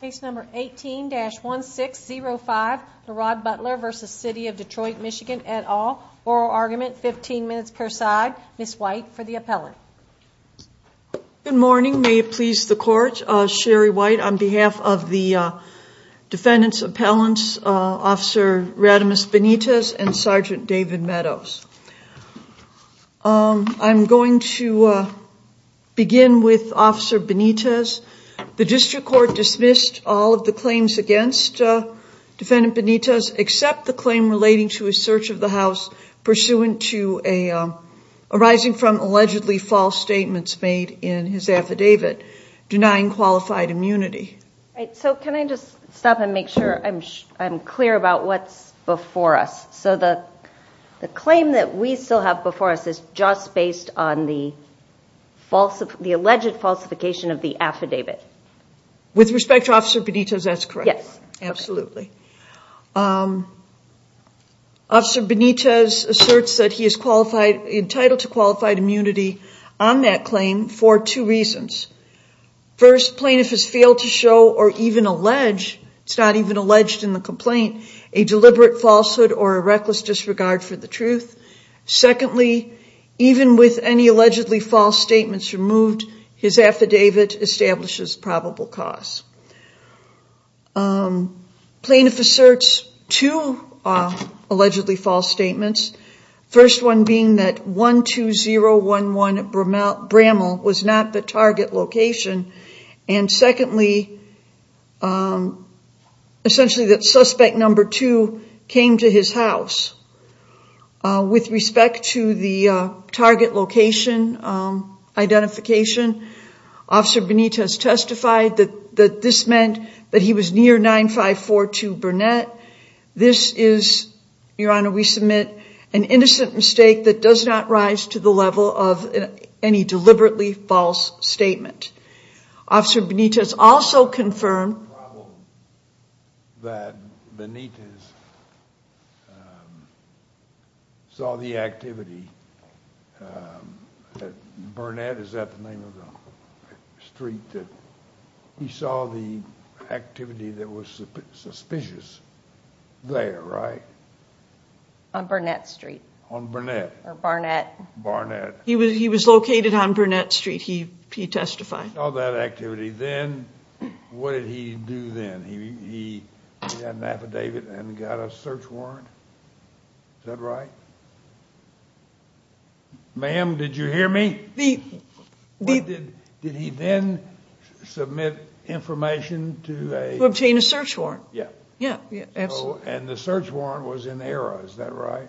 Case number 18-1605, Lerod Butler v. City of Detroit MI et al. Oral argument, 15 minutes per side. Ms. White for the appellant. Good morning, may it please the court. Sherry White on behalf of the defendant's appellants, Officer Rademus Benitez and Sergeant David Meadows. I'm going to begin with Officer Benitez. The district court dismissed all of the claims against Defendant Benitez except the claim relating to a search of the house pursuant to arising from allegedly false statements made in his affidavit denying qualified immunity. So can I just stop and make sure I'm clear about what's before us. So the claim that we still have before us is just based on the alleged falsification of the affidavit. With respect to Officer Benitez, that's correct? Yes. Absolutely. Officer Benitez asserts that he is entitled to qualified immunity on that claim for two reasons. First, plaintiff has failed to show or even allege, it's not even alleged in the complaint, a deliberate falsehood or a reckless disregard for the truth. Secondly, even with any allegedly false statements removed, his affidavit establishes probable cause. Plaintiff asserts two allegedly false statements. First one being that 12011 Bramall was not the target location. And secondly, essentially that suspect number two came to his house. With respect to the target location identification, Officer Benitez testified that this meant that he was near 9542 Burnett. This is, Your Honor, we submit an innocent mistake that does not rise to the level of any deliberately false statement. Officer Benitez also confirmed that Benitez saw the activity at Burnett, is that the name of the street? He saw the activity that was suspicious there, right? On Burnett Street. On Burnett. Or Barnett. Barnett. He was located on Burnett Street, he testified. He saw that activity, then what did he do then? He got an affidavit and got a search warrant, is that right? Ma'am, did you hear me? Did he then submit information to obtain a search warrant? And the search warrant was in error, is that right?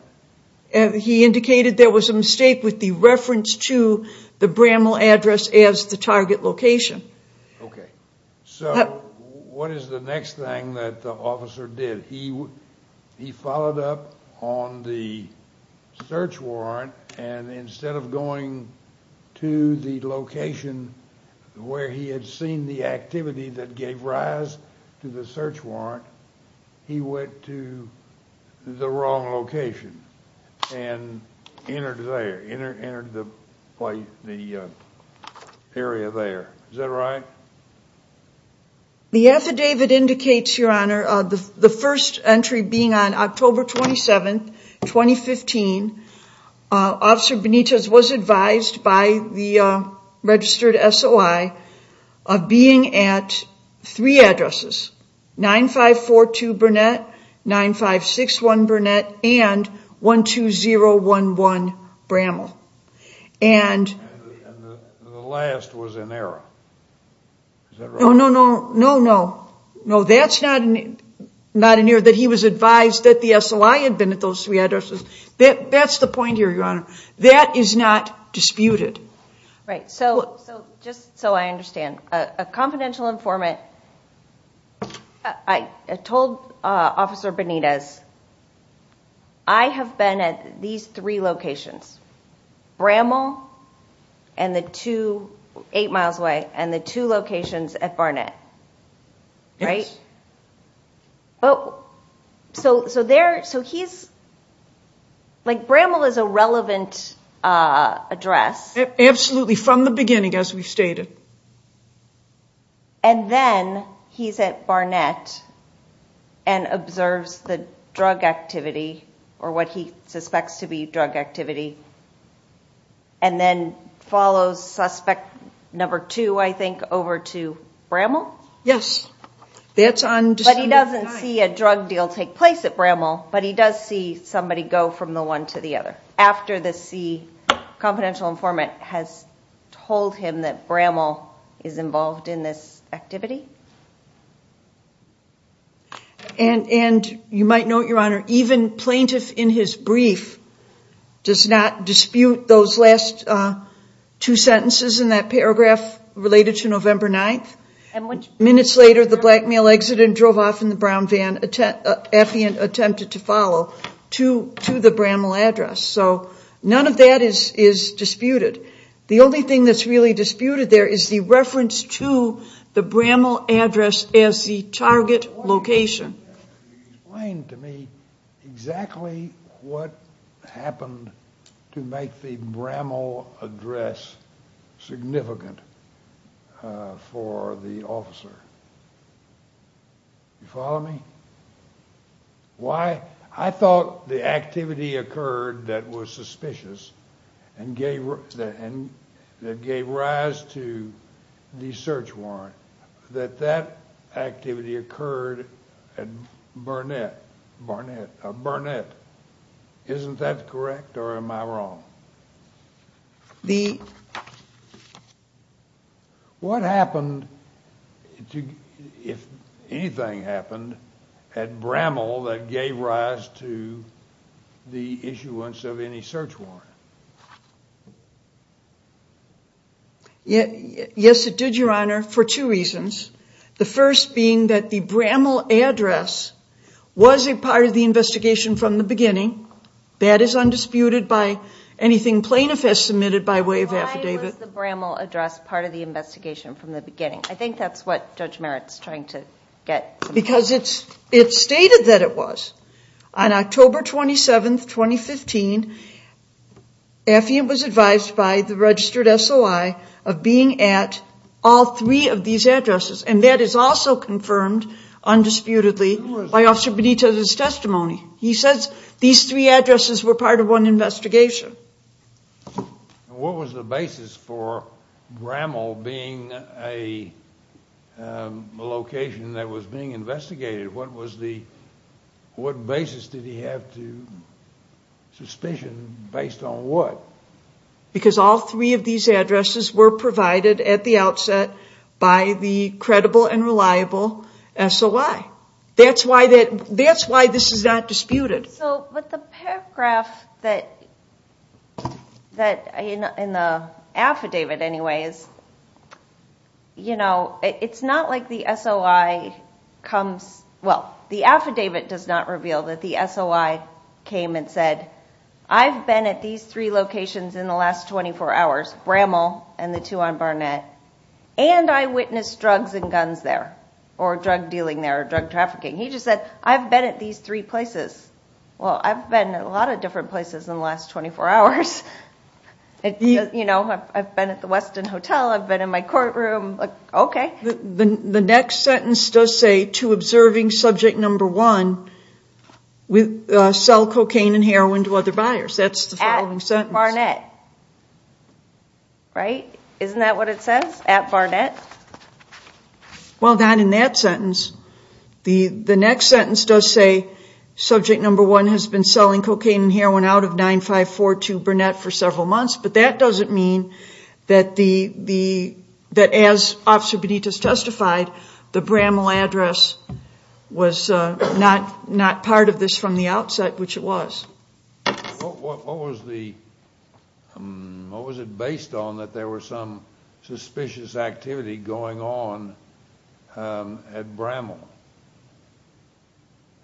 He indicated there was a mistake with the reference to the Bramall address as the target location. Okay, so what is the next thing that the officer did? He followed up on the search warrant and instead of going to the location where he had seen the activity that gave rise to the search warrant, he went to the wrong location and entered there, entered the area there, is that right? The affidavit indicates, Your Honor, the first entry being on October 27, 2015, Officer Benitez was advised by the registered SOI of being at three addresses, 9542 Burnett, 9561 Burnett, and 12011 Bramall. And the last was in error, is that right? No, no, no, that's not in error that he was advised that the SOI had been at those three addresses. That's the point here, Your Honor, that is not disputed. Right, so just so I understand, a confidential informant told Officer Benitez, I have been at these three locations, Bramall and the two, eight miles away, and the two locations at Burnett, right? Yes. So there, so he's, like Bramall is a relevant address. Absolutely, from the beginning as we've stated. And then he's at Burnett and observes the drug activity, or what he suspects to be drug activity, and then follows suspect number two, I think, over to Bramall? Yes, that's on December 9th. But he doesn't see a drug deal take place at Bramall, but he does see somebody go from the one to the other, after the C, confidential informant has told him that Bramall is involved in this activity. And you might note, Your Honor, even plaintiff in his brief does not dispute those last two sentences in that paragraph related to November 9th. Minutes later, the black male exited and drove off in the brown van, Effiant attempted to follow to the Bramall address. So none of that is disputed. The only thing that's really disputed there is the reference to the Bramall address as the target location. Explain to me exactly what happened to make the Bramall address significant for the officer. You follow me? Why? I thought the activity occurred that was suspicious and gave rise to the search warrant, that that activity occurred at Barnett. Isn't that correct, or am I wrong? What happened, if anything happened, at Bramall that gave rise to the issuance of any search warrant? Yes, it did, Your Honor, for two reasons. The first being that the Bramall address was a part of the investigation from the beginning. That is undisputed by anything plaintiff has submitted by way of affidavit. Why was the Bramall address part of the investigation from the beginning? I think that's what Judge Merritt is trying to get. Because it stated that it was. On October 27, 2015, Affion was advised by the registered SOI of being at all three of these addresses, and that is also confirmed undisputedly by Officer Benito's testimony. He says these three addresses were part of one investigation. What was the basis for Bramall being a location that was being investigated? What basis did he have to suspension based on what? Because all three of these addresses were provided at the outset by the credible and reliable SOI. That's why this is not disputed. But the paragraph in the affidavit, anyway, it's not like the SOI comes. Well, the affidavit does not reveal that the SOI came and said, I've been at these three locations in the last 24 hours, Bramall and the two on Barnett, and I witnessed drugs and guns there or drug dealing there or drug trafficking. He just said, I've been at these three places. Well, I've been at a lot of different places in the last 24 hours. You know, I've been at the Westin Hotel, I've been in my courtroom. Okay. The next sentence does say, to observing subject number one, sell cocaine and heroin to other buyers. That's the following sentence. At Barnett. Right? Isn't that what it says? At Barnett. Well, not in that sentence. The next sentence does say, subject number one has been selling cocaine and heroin out of 9542 Barnett for several months, but that doesn't mean that as Officer Benitez testified, the Bramall address was not part of this from the outset, which it was. What was it based on that there was some suspicious activity going on at Bramall?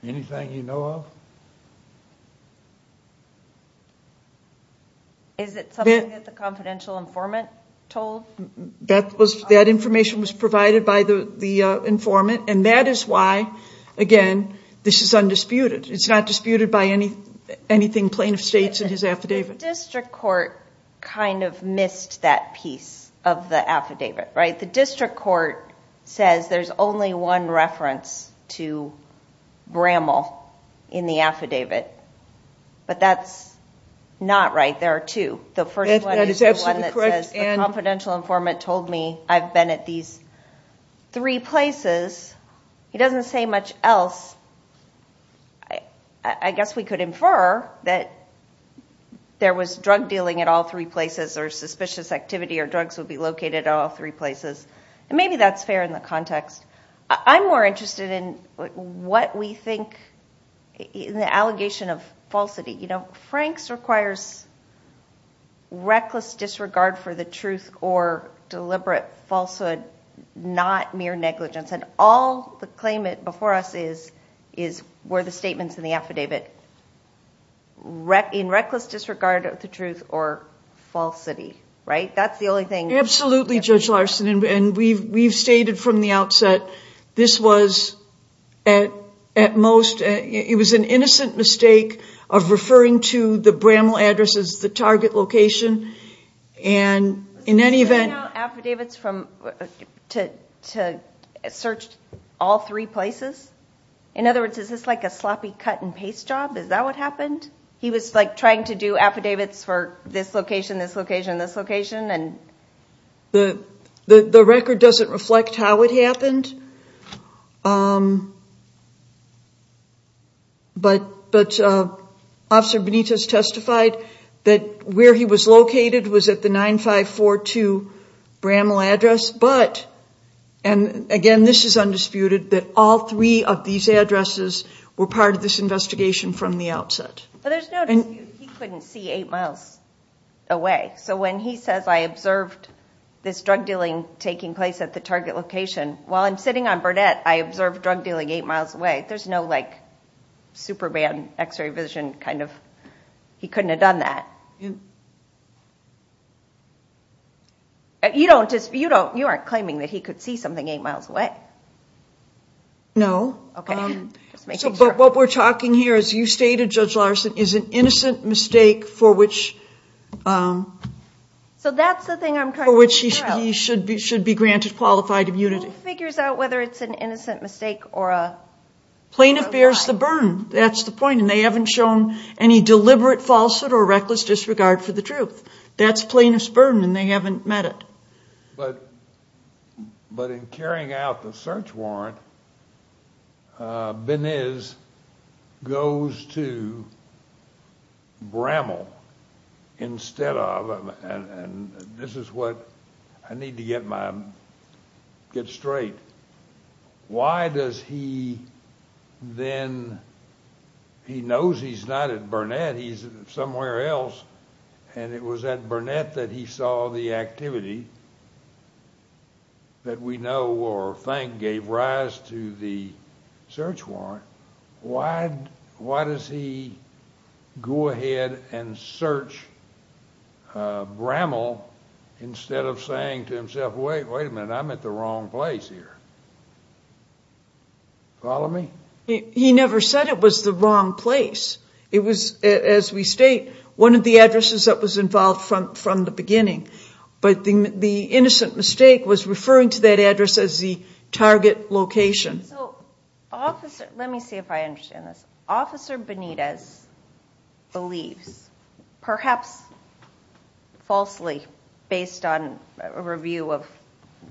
Anything you know of? Is it something that the confidential informant told? That information was provided by the informant, and that is why, again, this is undisputed. It's not disputed by anything plaintiff states in his affidavit. The district court kind of missed that piece of the affidavit, right? The district court says there's only one reference to Bramall in the affidavit, but that's not right. There are two. The first one is the one that says the confidential informant told me I've been at these three places. He doesn't say much else. I guess we could infer that there was drug dealing at all three places or suspicious activity or drugs would be located at all three places, and maybe that's fair in the context. I'm more interested in what we think in the allegation of falsity. You know, Franks requires reckless disregard for the truth or deliberate falsehood, not mere negligence, and all the claimant before us is were the statements in the affidavit in reckless disregard of the truth or falsity, right? That's the only thing. Absolutely, Judge Larson, and we've stated from the outset this was at most, it was an innocent mistake of referring to the Bramall address as the target location, and in any event... Was he sending out affidavits to search all three places? In other words, is this like a sloppy cut-and-paste job? Is that what happened? He was trying to do affidavits for this location, this location, this location, and... The record doesn't reflect how it happened, but Officer Benitez testified that where he was located was at the 9542 Bramall address, but, and again, this is undisputed, that all three of these addresses were part of this investigation from the outset. But there's no dispute he couldn't see eight miles away, so when he says, I observed this drug dealing taking place at the target location, while I'm sitting on Burnett, I observed drug dealing eight miles away, there's no, like, super bad x-ray vision kind of, he couldn't have done that. You don't dispute, you aren't claiming that he could see something eight miles away? No. Okay, just making sure. But what we're talking here, as you stated, Judge Larson, is an innocent mistake for which... So that's the thing I'm trying to figure out. ...for which he should be granted qualified immunity. Who figures out whether it's an innocent mistake or a... Plaintiff bears the burden, that's the point, and they haven't shown any deliberate falsehood or reckless disregard for the truth. That's plaintiff's burden, and they haven't met it. But in carrying out the search warrant, Benitez goes to Bramall instead of, and this is what I need to get straight, why does he then, he knows he's not at Burnett, he's somewhere else, and it was at Burnett that he saw the activity that we know or think gave rise to the search warrant, why does he go ahead and search Bramall instead of saying to himself, wait a minute, I'm at the wrong place here. Follow me? He never said it was the wrong place. It was, as we state, one of the addresses that was involved from the beginning. But the innocent mistake was referring to that address as the target location. Let me see if I understand this. Officer Benitez believes, perhaps falsely, based on a review of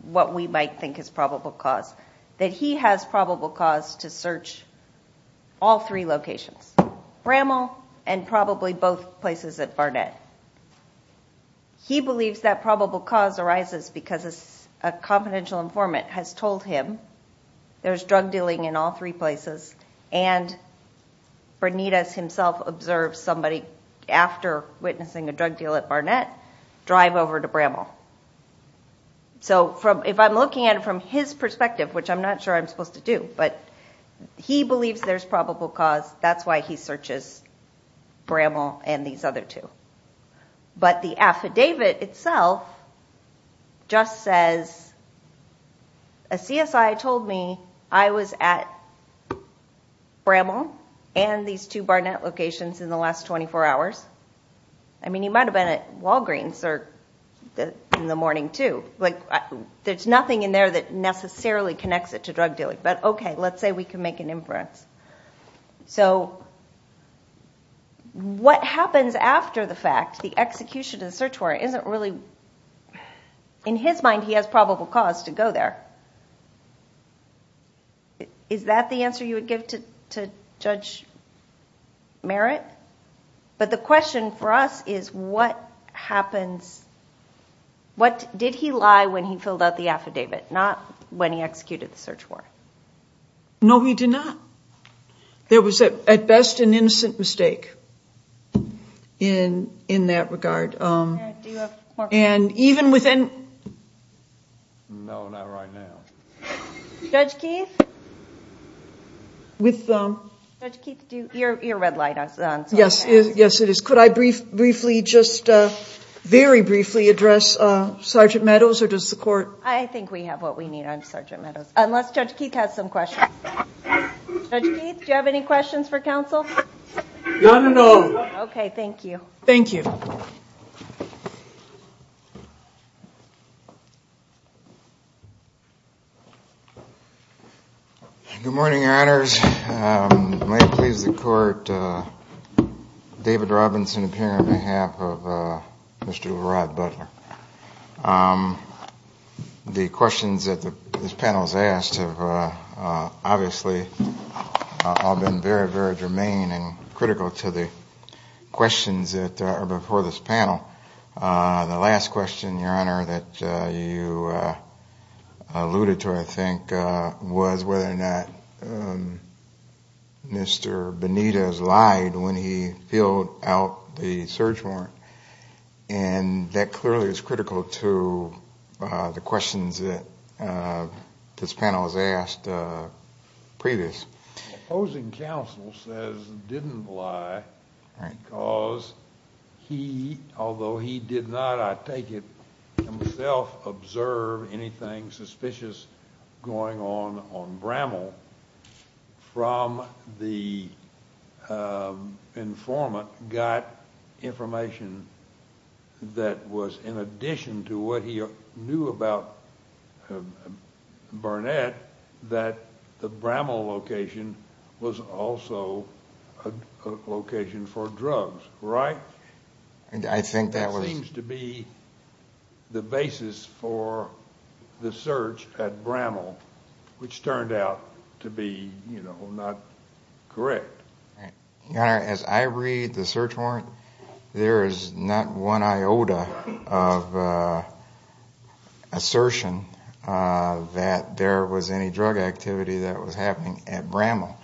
what we might think is probable cause, that he has probable cause to search all three locations, Bramall and probably both places at Burnett. He believes that probable cause arises because a confidential informant has told him there's drug dealing in all three places, and Benitez himself observes somebody, after witnessing a drug deal at Burnett, drive over to Bramall. So if I'm looking at it from his perspective, which I'm not sure I'm supposed to do, but he believes there's probable cause, that's why he searches Bramall and these other two. But the affidavit itself just says, a CSI told me I was at Bramall and these two Burnett locations in the last 24 hours. I mean, he might have been at Walgreens in the morning, too. There's nothing in there that necessarily connects it to drug dealing. But okay, let's say we can make an inference. So what happens after the fact? The execution of the search warrant isn't really, in his mind, he has probable cause to go there. Is that the answer you would give to Judge Merritt? But the question for us is, what did he lie when he filled out the affidavit, not when he executed the search warrant? No, he did not. There was, at best, an innocent mistake in that regard. And even within... No, not right now. Judge Keith? With... Judge Keith, your red light is on. Yes, it is. Could I briefly, just very briefly, address Sergeant Meadows, or does the court... I think we have what we need on Sergeant Meadows. Unless Judge Keith has some questions. Judge Keith, do you have any questions for counsel? No, no, no. Okay, thank you. Thank you. Good morning, Your Honors. May it please the Court, David Robinson appearing on behalf of Mr. Leroy Butler. The questions that this panel has asked have obviously all been very, very germane and critical to the questions that are before this panel. The last question, Your Honor, that you alluded to, I think, was whether or not Mr. Benitez lied when he filled out the search warrant. And that clearly is critical to the questions that this panel has asked previous. The opposing counsel says he didn't lie because he, although he did not, I take it, himself observe anything suspicious going on on Bramall, from the informant got information that was in addition to what he knew about Burnett, that the Bramall location was also a location for drugs, right? I think that was... at Bramall, which turned out to be, you know, not correct. Your Honor, as I read the search warrant, there is not one iota of assertion that there was any drug activity that was happening at Bramall.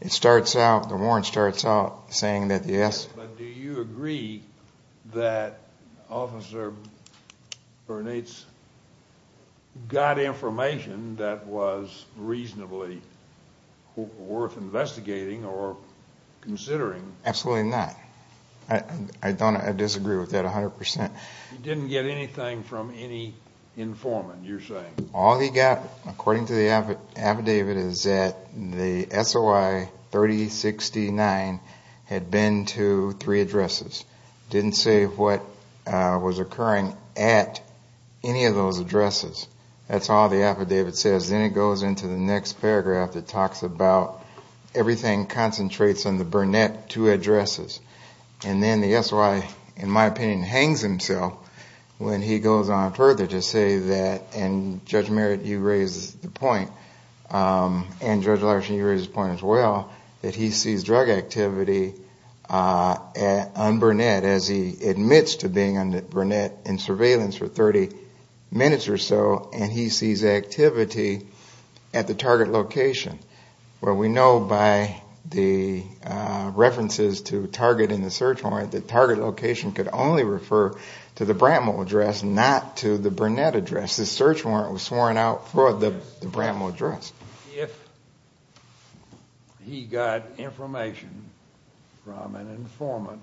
It starts out, the warrant starts out saying that, yes. But do you agree that Officer Benitez got information that was reasonably worth investigating or considering? Absolutely not. I disagree with that 100%. He didn't get anything from any informant, you're saying? All he got, according to the affidavit, is that the SOI 3069 had been to three addresses. Didn't say what was occurring at any of those addresses. That's all the affidavit says. Then it goes into the next paragraph that talks about everything concentrates on the Burnett two addresses. And then the SOI, in my opinion, hangs himself when he goes on further to say that, and Judge Merritt, you raised the point, and Judge Larson, you raised the point as well, that he sees drug activity on Burnett as he admits to being on Burnett in surveillance for 30 minutes or so, and he sees activity at the target location. Well, we know by the references to target in the search warrant that target location could only refer to the Bramall address, not to the Burnett address. The search warrant was sworn out for the Bramall address. If he got information from an informant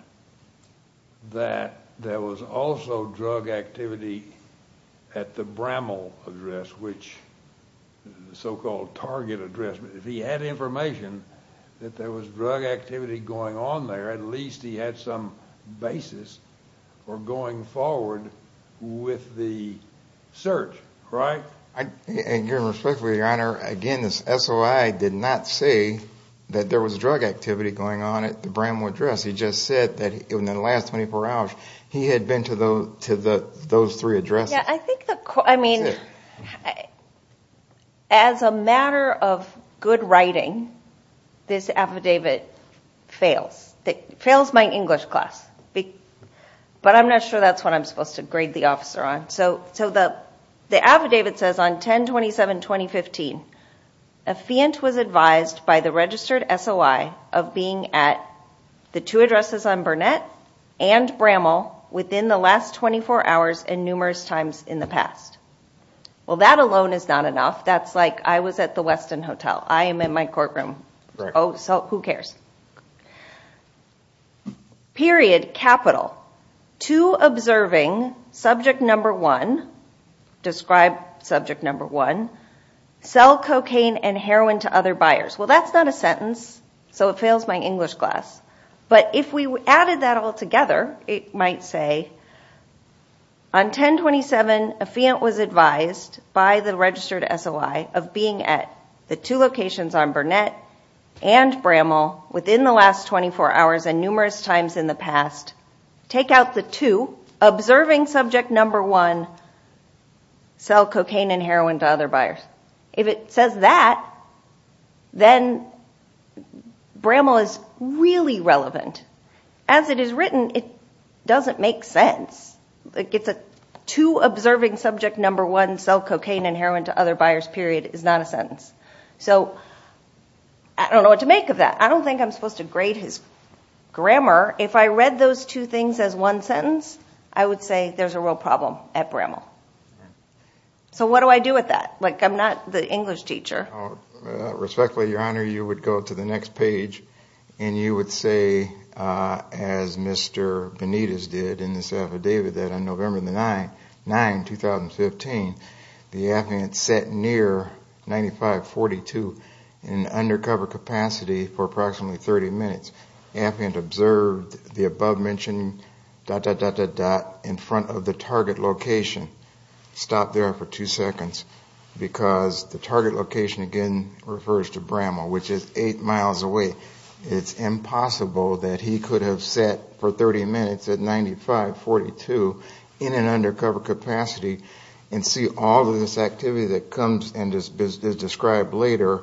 that there was also drug activity at the Bramall address, which is the so-called target address, if he had information that there was drug activity going on there, at least he had some basis for going forward with the search, right? Your Honor, again, the SOI did not say that there was drug activity going on at the Bramall address. He just said that in the last 24 hours he had been to those three addresses. I mean, as a matter of good writing, this affidavit fails. It fails my English class, but I'm not sure that's what I'm supposed to grade the officer on. So the affidavit says, on 10-27-2015, a fient was advised by the registered SOI of being at the two addresses on Burnett and Bramall within the last 24 hours and numerous times in the past. Well, that alone is not enough. That's like I was at the Westin Hotel. I am in my courtroom. Oh, so who cares? Period. Capital. To observing subject number one, describe subject number one, sell cocaine and heroin to other buyers. Well, that's not a sentence, so it fails my English class, but if we added that all together, it might say, on 10-27, a fient was advised by the registered SOI of being at the two locations on Burnett and Bramall within the last 24 hours and numerous times in the past. Take out the two, observing subject number one, sell cocaine and heroin to other buyers. If it says that, then Bramall is really relevant. As it is written, it doesn't make sense. To observing subject number one, sell cocaine and heroin to other buyers, period, is not a sentence. So I don't know what to make of that. I don't think I'm supposed to grade his grammar. If I read those two things as one sentence, I would say there's a real problem at Bramall. So what do I do with that? I'm not the English teacher. Respectfully, Your Honor, you would go to the next page, and you would say, as Mr. Benitez did in this affidavit, that on November 9, 2015, the affiant sat near 95-42 in undercover capacity for approximately 30 minutes. Affiant observed the above-mentioned dot, dot, dot, dot, dot in front of the target location, stopped there for two seconds, because the target location, again, refers to Bramall, which is eight miles away. It's impossible that he could have sat for 30 minutes at 95-42 in an undercover capacity and see all of this activity that comes and is described later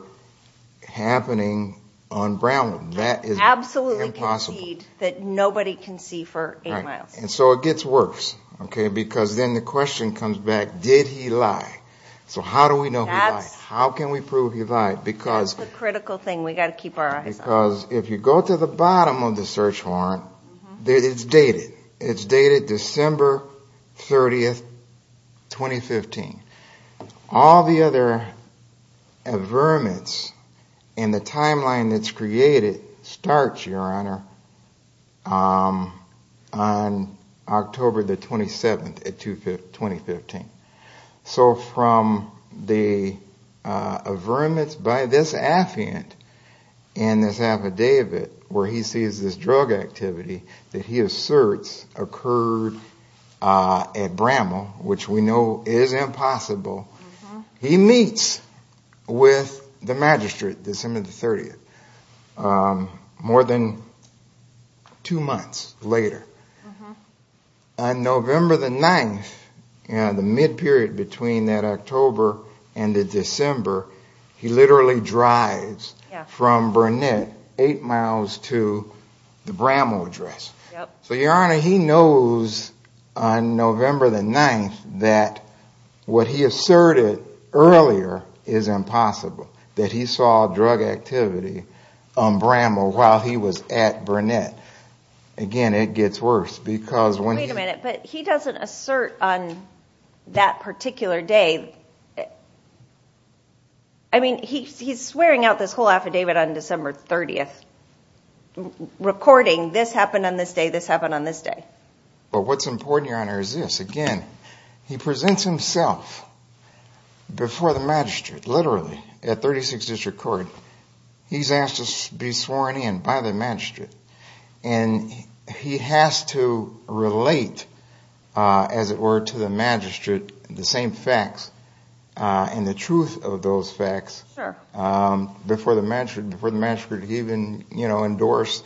happening on Bramall. That is impossible. He absolutely conceded that nobody can see for eight miles. And so it gets worse, because then the question comes back, did he lie? So how do we know he lied? How can we prove he lied? That's the critical thing we've got to keep our eyes on. Because if you go to the bottom of the search warrant, it's dated. It's dated December 30, 2015. All the other averments and the timeline that's created starts, Your Honor, on October 27, 2015. So from the averments by this affiant and this affidavit where he sees this drug activity that he asserts occurred at Bramall, which we know is impossible, he meets with the magistrate December 30, more than two months later. On November 9, the mid-period between that October and the December, he literally drives from Burnett, eight miles to the Bramall address. So, Your Honor, he knows on November 9 that what he asserted earlier is impossible, that he saw drug activity on Bramall while he was at Burnett. Again, it gets worse. Wait a minute, but he doesn't assert on that particular day. I mean, he's swearing out this whole affidavit on December 30. Recording this happened on this day, this happened on this day. But what's important, Your Honor, is this. Again, he presents himself before the magistrate, literally, at 36 District Court. He's asked to be sworn in by the magistrate, and he has to relate, as it were, to the magistrate the same facts and the truth of those facts before the magistrate even endorsed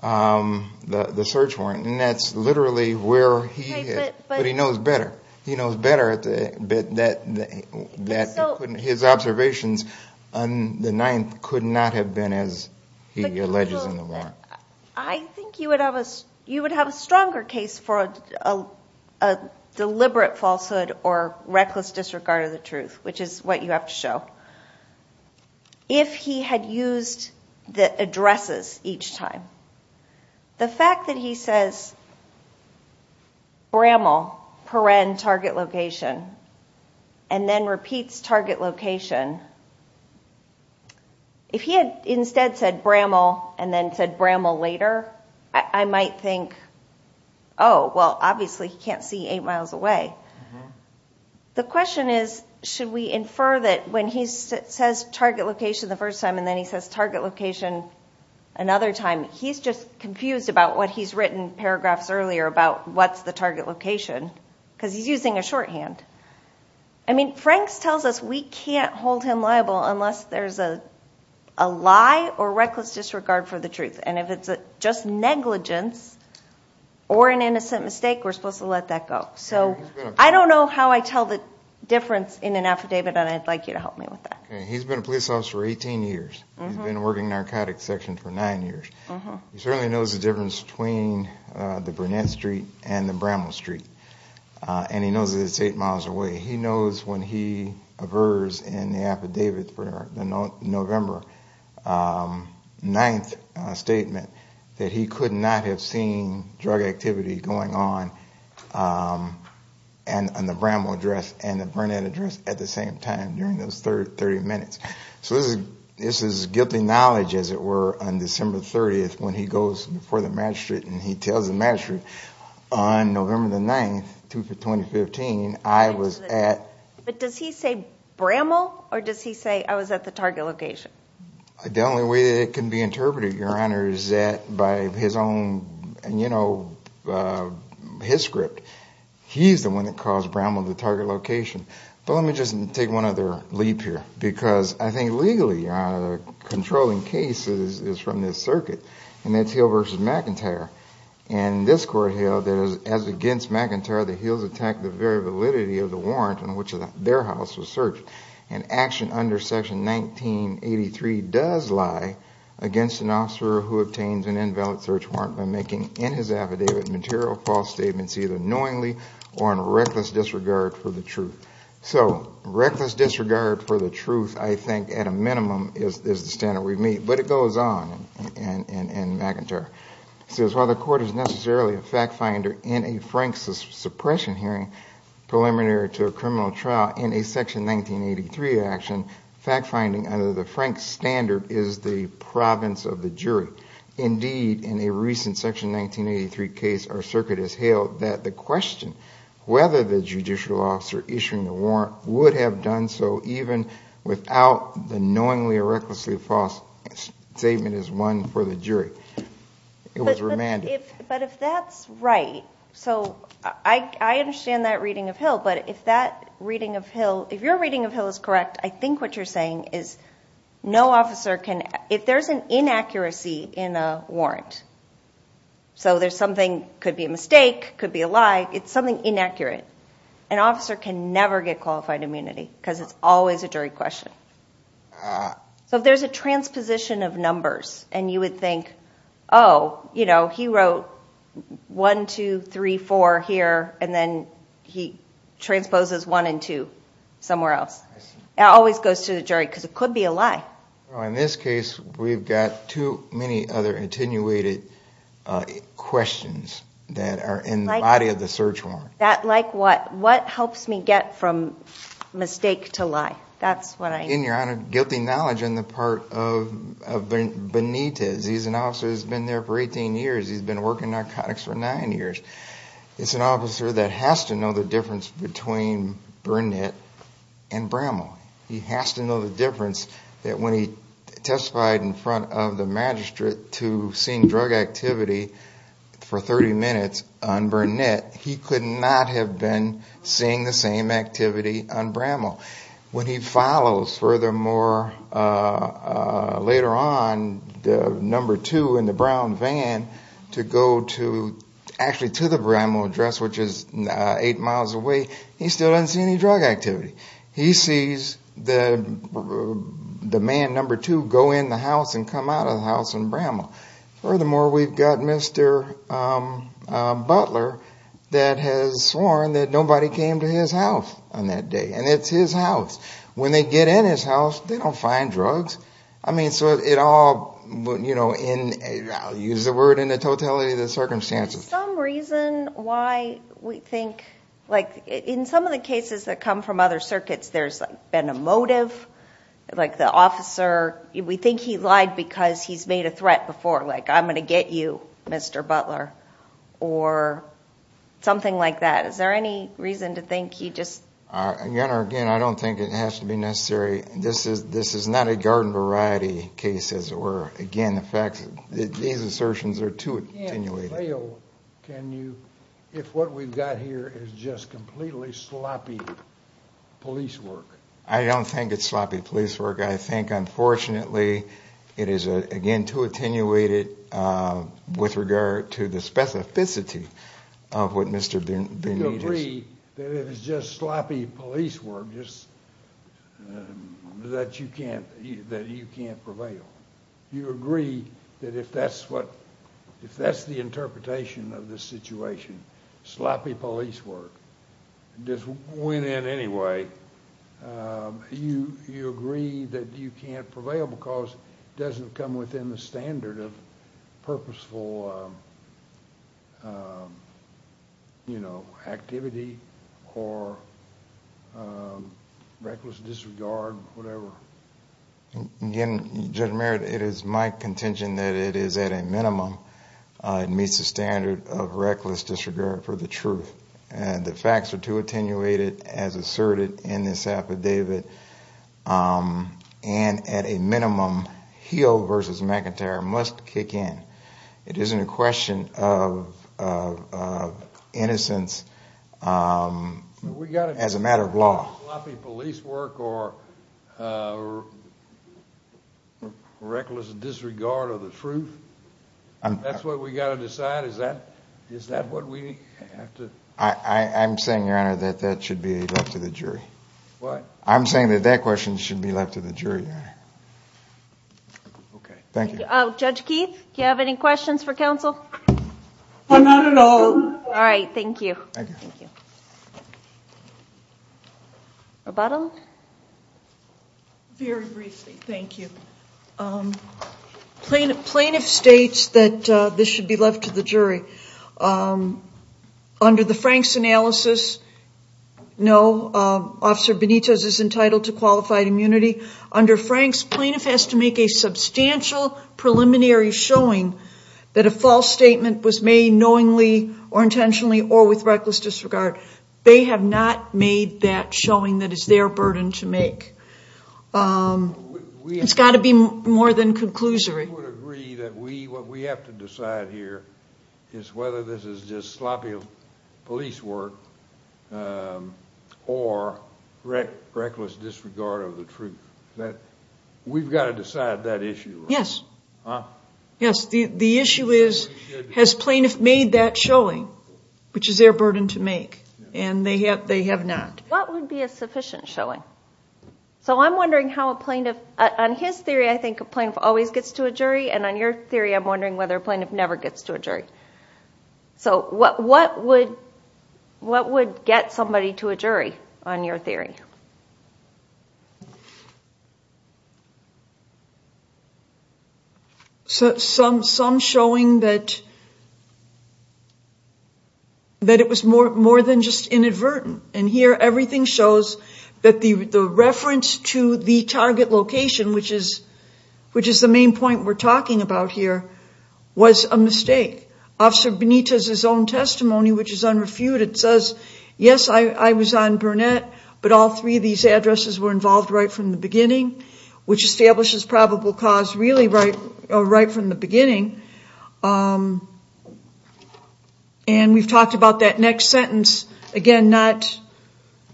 the search warrant. And that's literally where he is. But he knows better. He knows better that his observations on the 9th could not have been as he alleges in the warrant. I think you would have a stronger case for a deliberate falsehood or reckless disregard of the truth, which is what you have to show. If he had used the addresses each time, the fact that he says, Bramall, Perrin, Target Location, and then repeats Target Location. If he had instead said Bramall and then said Bramall later, I might think, oh, well, obviously he can't see eight miles away. The question is, should we infer that when he says Target Location the first time and then he says Target Location another time, he's just confused about what he's written paragraphs earlier about what's the Target Location because he's using a shorthand. I mean, Franks tells us we can't hold him liable unless there's a lie or reckless disregard for the truth. And if it's just negligence or an innocent mistake, we're supposed to let that go. So I don't know how I tell the difference in an affidavit, and I'd like you to help me with that. He's been a police officer for 18 years. He's been working narcotics section for nine years. He certainly knows the difference between the Burnett Street and the Bramall Street, and he knows that it's eight miles away. He knows when he averts in the affidavit for the November 9th statement that he could not have seen drug activity going on on the Bramall address and the Burnett address at the same time during those 30 minutes. So this is guilty knowledge, as it were, on December 30th when he goes before the magistrate and he tells the magistrate on November 9th, 2015, I was at... But does he say Bramall or does he say I was at the Target Location? The only way that it can be interpreted, Your Honor, is that by his own, you know, his script. He's the one that calls Bramall the Target Location. But let me just take one other leap here because I think legally, Your Honor, the controlling case is from this circuit, and that's Hill v. McIntyre. And this court held that as against McIntyre, the Hills attacked the very validity of the warrant on which their house was searched. And action under Section 1983 does lie against an officer who obtains an invalid search warrant by making in his affidavit material false statements either knowingly or in reckless disregard for the truth. So reckless disregard for the truth, I think, at a minimum, is the standard we meet. But it goes on in McIntyre. It says while the court is necessarily a fact finder in a Frank suppression hearing preliminary to a criminal trial in a Section 1983 action, fact finding under the Frank standard is the province of the jury. Indeed, in a recent Section 1983 case, our circuit has hailed that the question whether the judicial officer issuing the warrant would have done so even without the knowingly or recklessly false statement is one for the jury. It was remanded. But if that's right, so I understand that reading of Hill. But if that reading of Hill, if your reading of Hill is correct, I think what you're saying is no officer can, if there's an inaccuracy in a warrant, so there's something, could be a mistake, could be a lie. It's something inaccurate. An officer can never get qualified immunity because it's always a jury question. So if there's a transposition of numbers and you would think, oh, you know, he wrote 1, 2, 3, 4 here, and then he transposes 1 and 2 somewhere else. It always goes to the jury because it could be a lie. In this case, we've got too many other attenuated questions that are in the body of the search warrant. Like what? What helps me get from mistake to lie? In your honor, guilty knowledge on the part of Benitez. He's an officer who's been there for 18 years. He's been working narcotics for nine years. It's an officer that has to know the difference between Burnett and Bramall. He has to know the difference that when he testified in front of the magistrate to seeing drug activity for 30 minutes on Burnett, he could not have been seeing the same activity on Bramall. When he follows, furthermore, later on, the number two in the brown van to go to, actually to the Bramall address, which is eight miles away, he still doesn't see any drug activity. He sees the man number two go in the house and come out of the house in Bramall. Furthermore, we've got Mr. Butler that has sworn that nobody came to his house on that day. And it's his house. When they get in his house, they don't find drugs. I mean, so it all, you know, I'll use the word in the totality of the circumstances. Is there some reason why we think, like in some of the cases that come from other circuits, there's been a motive, like the officer, we think he lied because he's made a threat before, like I'm going to get you, Mr. Butler, or something like that. Is there any reason to think he just... Again, I don't think it has to be necessary. This is not a garden variety case, as it were. Again, the fact that these assertions are too attenuated. Can you, if what we've got here is just completely sloppy police work? I don't think it's sloppy police work. I think, unfortunately, it is, again, too attenuated with regard to the specificity of what Mr. Benita's... Do you agree that if it's just sloppy police work, that you can't prevail? Do you agree that if that's what, if that's the interpretation of the situation, sloppy police work, just went in anyway, you agree that you can't prevail because it doesn't come within the standard of purposeful activity or reckless disregard, whatever? Again, Judge Merritt, it is my contention that it is, at a minimum, it meets the standard of reckless disregard for the truth. The facts are too attenuated, as asserted in this affidavit, and at a minimum, Hill v. McIntyre must kick in. It isn't a question of innocence as a matter of law. We've got to decide whether it's sloppy police work or reckless disregard of the truth. That's what we've got to decide? Is that what we have to... I'm saying, Your Honor, that that should be left to the jury. What? I'm saying that that question should be left to the jury, Your Honor. Okay, thank you. Judge Keith, do you have any questions for counsel? No, not at all. All right, thank you. Rebuttal? Very briefly, thank you. Plaintiff states that this should be left to the jury. Under the Franks analysis, no, Officer Benitez is entitled to qualified immunity. Under Franks, plaintiff has to make a substantial preliminary showing that a false statement was made knowingly or intentionally or with reckless disregard. They have not made that showing that is their burden to make. It's got to be more than conclusory. We would agree that what we have to decide here is whether this is just sloppy police work or reckless disregard of the truth. We've got to decide that issue. Yes. The issue is, has plaintiff made that showing, which is their burden to make, and they have not. What would be a sufficient showing? I'm wondering how a plaintiff, on his theory, I think a plaintiff always gets to a jury, and on your theory, I'm wondering whether a plaintiff never gets to a jury. What would get somebody to a jury on your theory? Some showing that it was more than just inadvertent. Here, everything shows that the reference to the target location, which is the main point we're talking about here, was a mistake. Officer Benitez' own testimony, which is unrefuted, says, yes, I was on Burnett, but all three of these addresses were involved right from the beginning, which establishes probable cause really right from the beginning. And we've talked about that next sentence, again,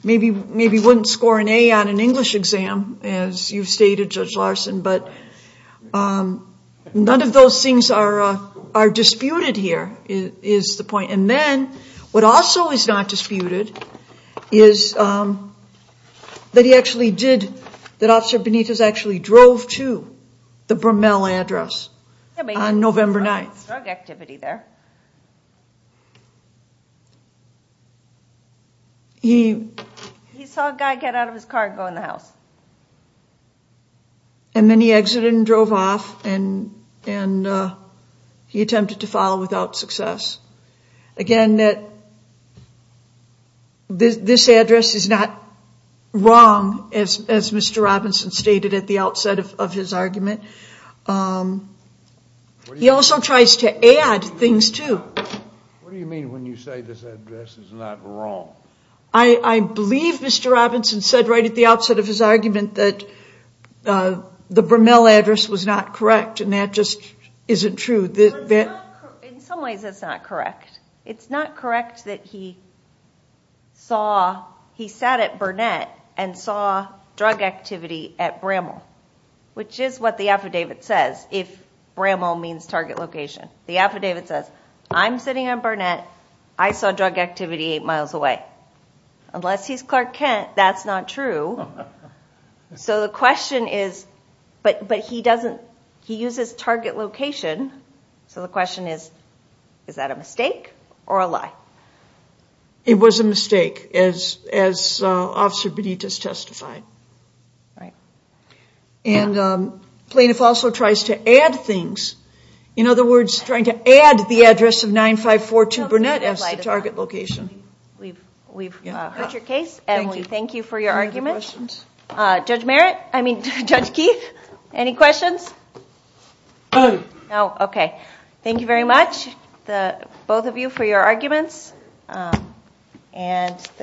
maybe wouldn't score an A on an English exam, as you've stated, Judge Larson, but none of those things are disputed here, is the point. And then, what also is not disputed is that he actually did, that Officer Benitez actually drove to the Brumell address on November 2nd. November 9th. He saw a guy get out of his car and go in the house. And then he exited and drove off, and he attempted to file without success. Again, this address is not wrong, as Mr. Robinson stated at the outset of his argument. He also tries to add things, too. What do you mean when you say this address is not wrong? I believe Mr. Robinson said right at the outset of his argument that the Brumell address was not correct, and that just isn't true. In some ways, it's not correct. It's not correct that he saw, he sat at Burnett and saw drug activity at Brumell, which is what the affidavit says, if Brumell means target location. The affidavit says, I'm sitting at Burnett, I saw drug activity eight miles away. Unless he's Clark Kent, that's not true. So the question is, but he doesn't, he uses target location, so the question is, is that a mistake or a lie? It was a mistake, as Officer Benitez testified. Plaintiff also tries to add things. In other words, trying to add the address of 9542 Burnett as the target location. We've heard your case, and we thank you for your argument. Judge Merritt, I mean Judge Keith, any questions? No, okay. Thank you very much, both of you, for your arguments. The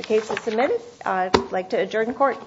case is submitted. I'd like to adjourn court.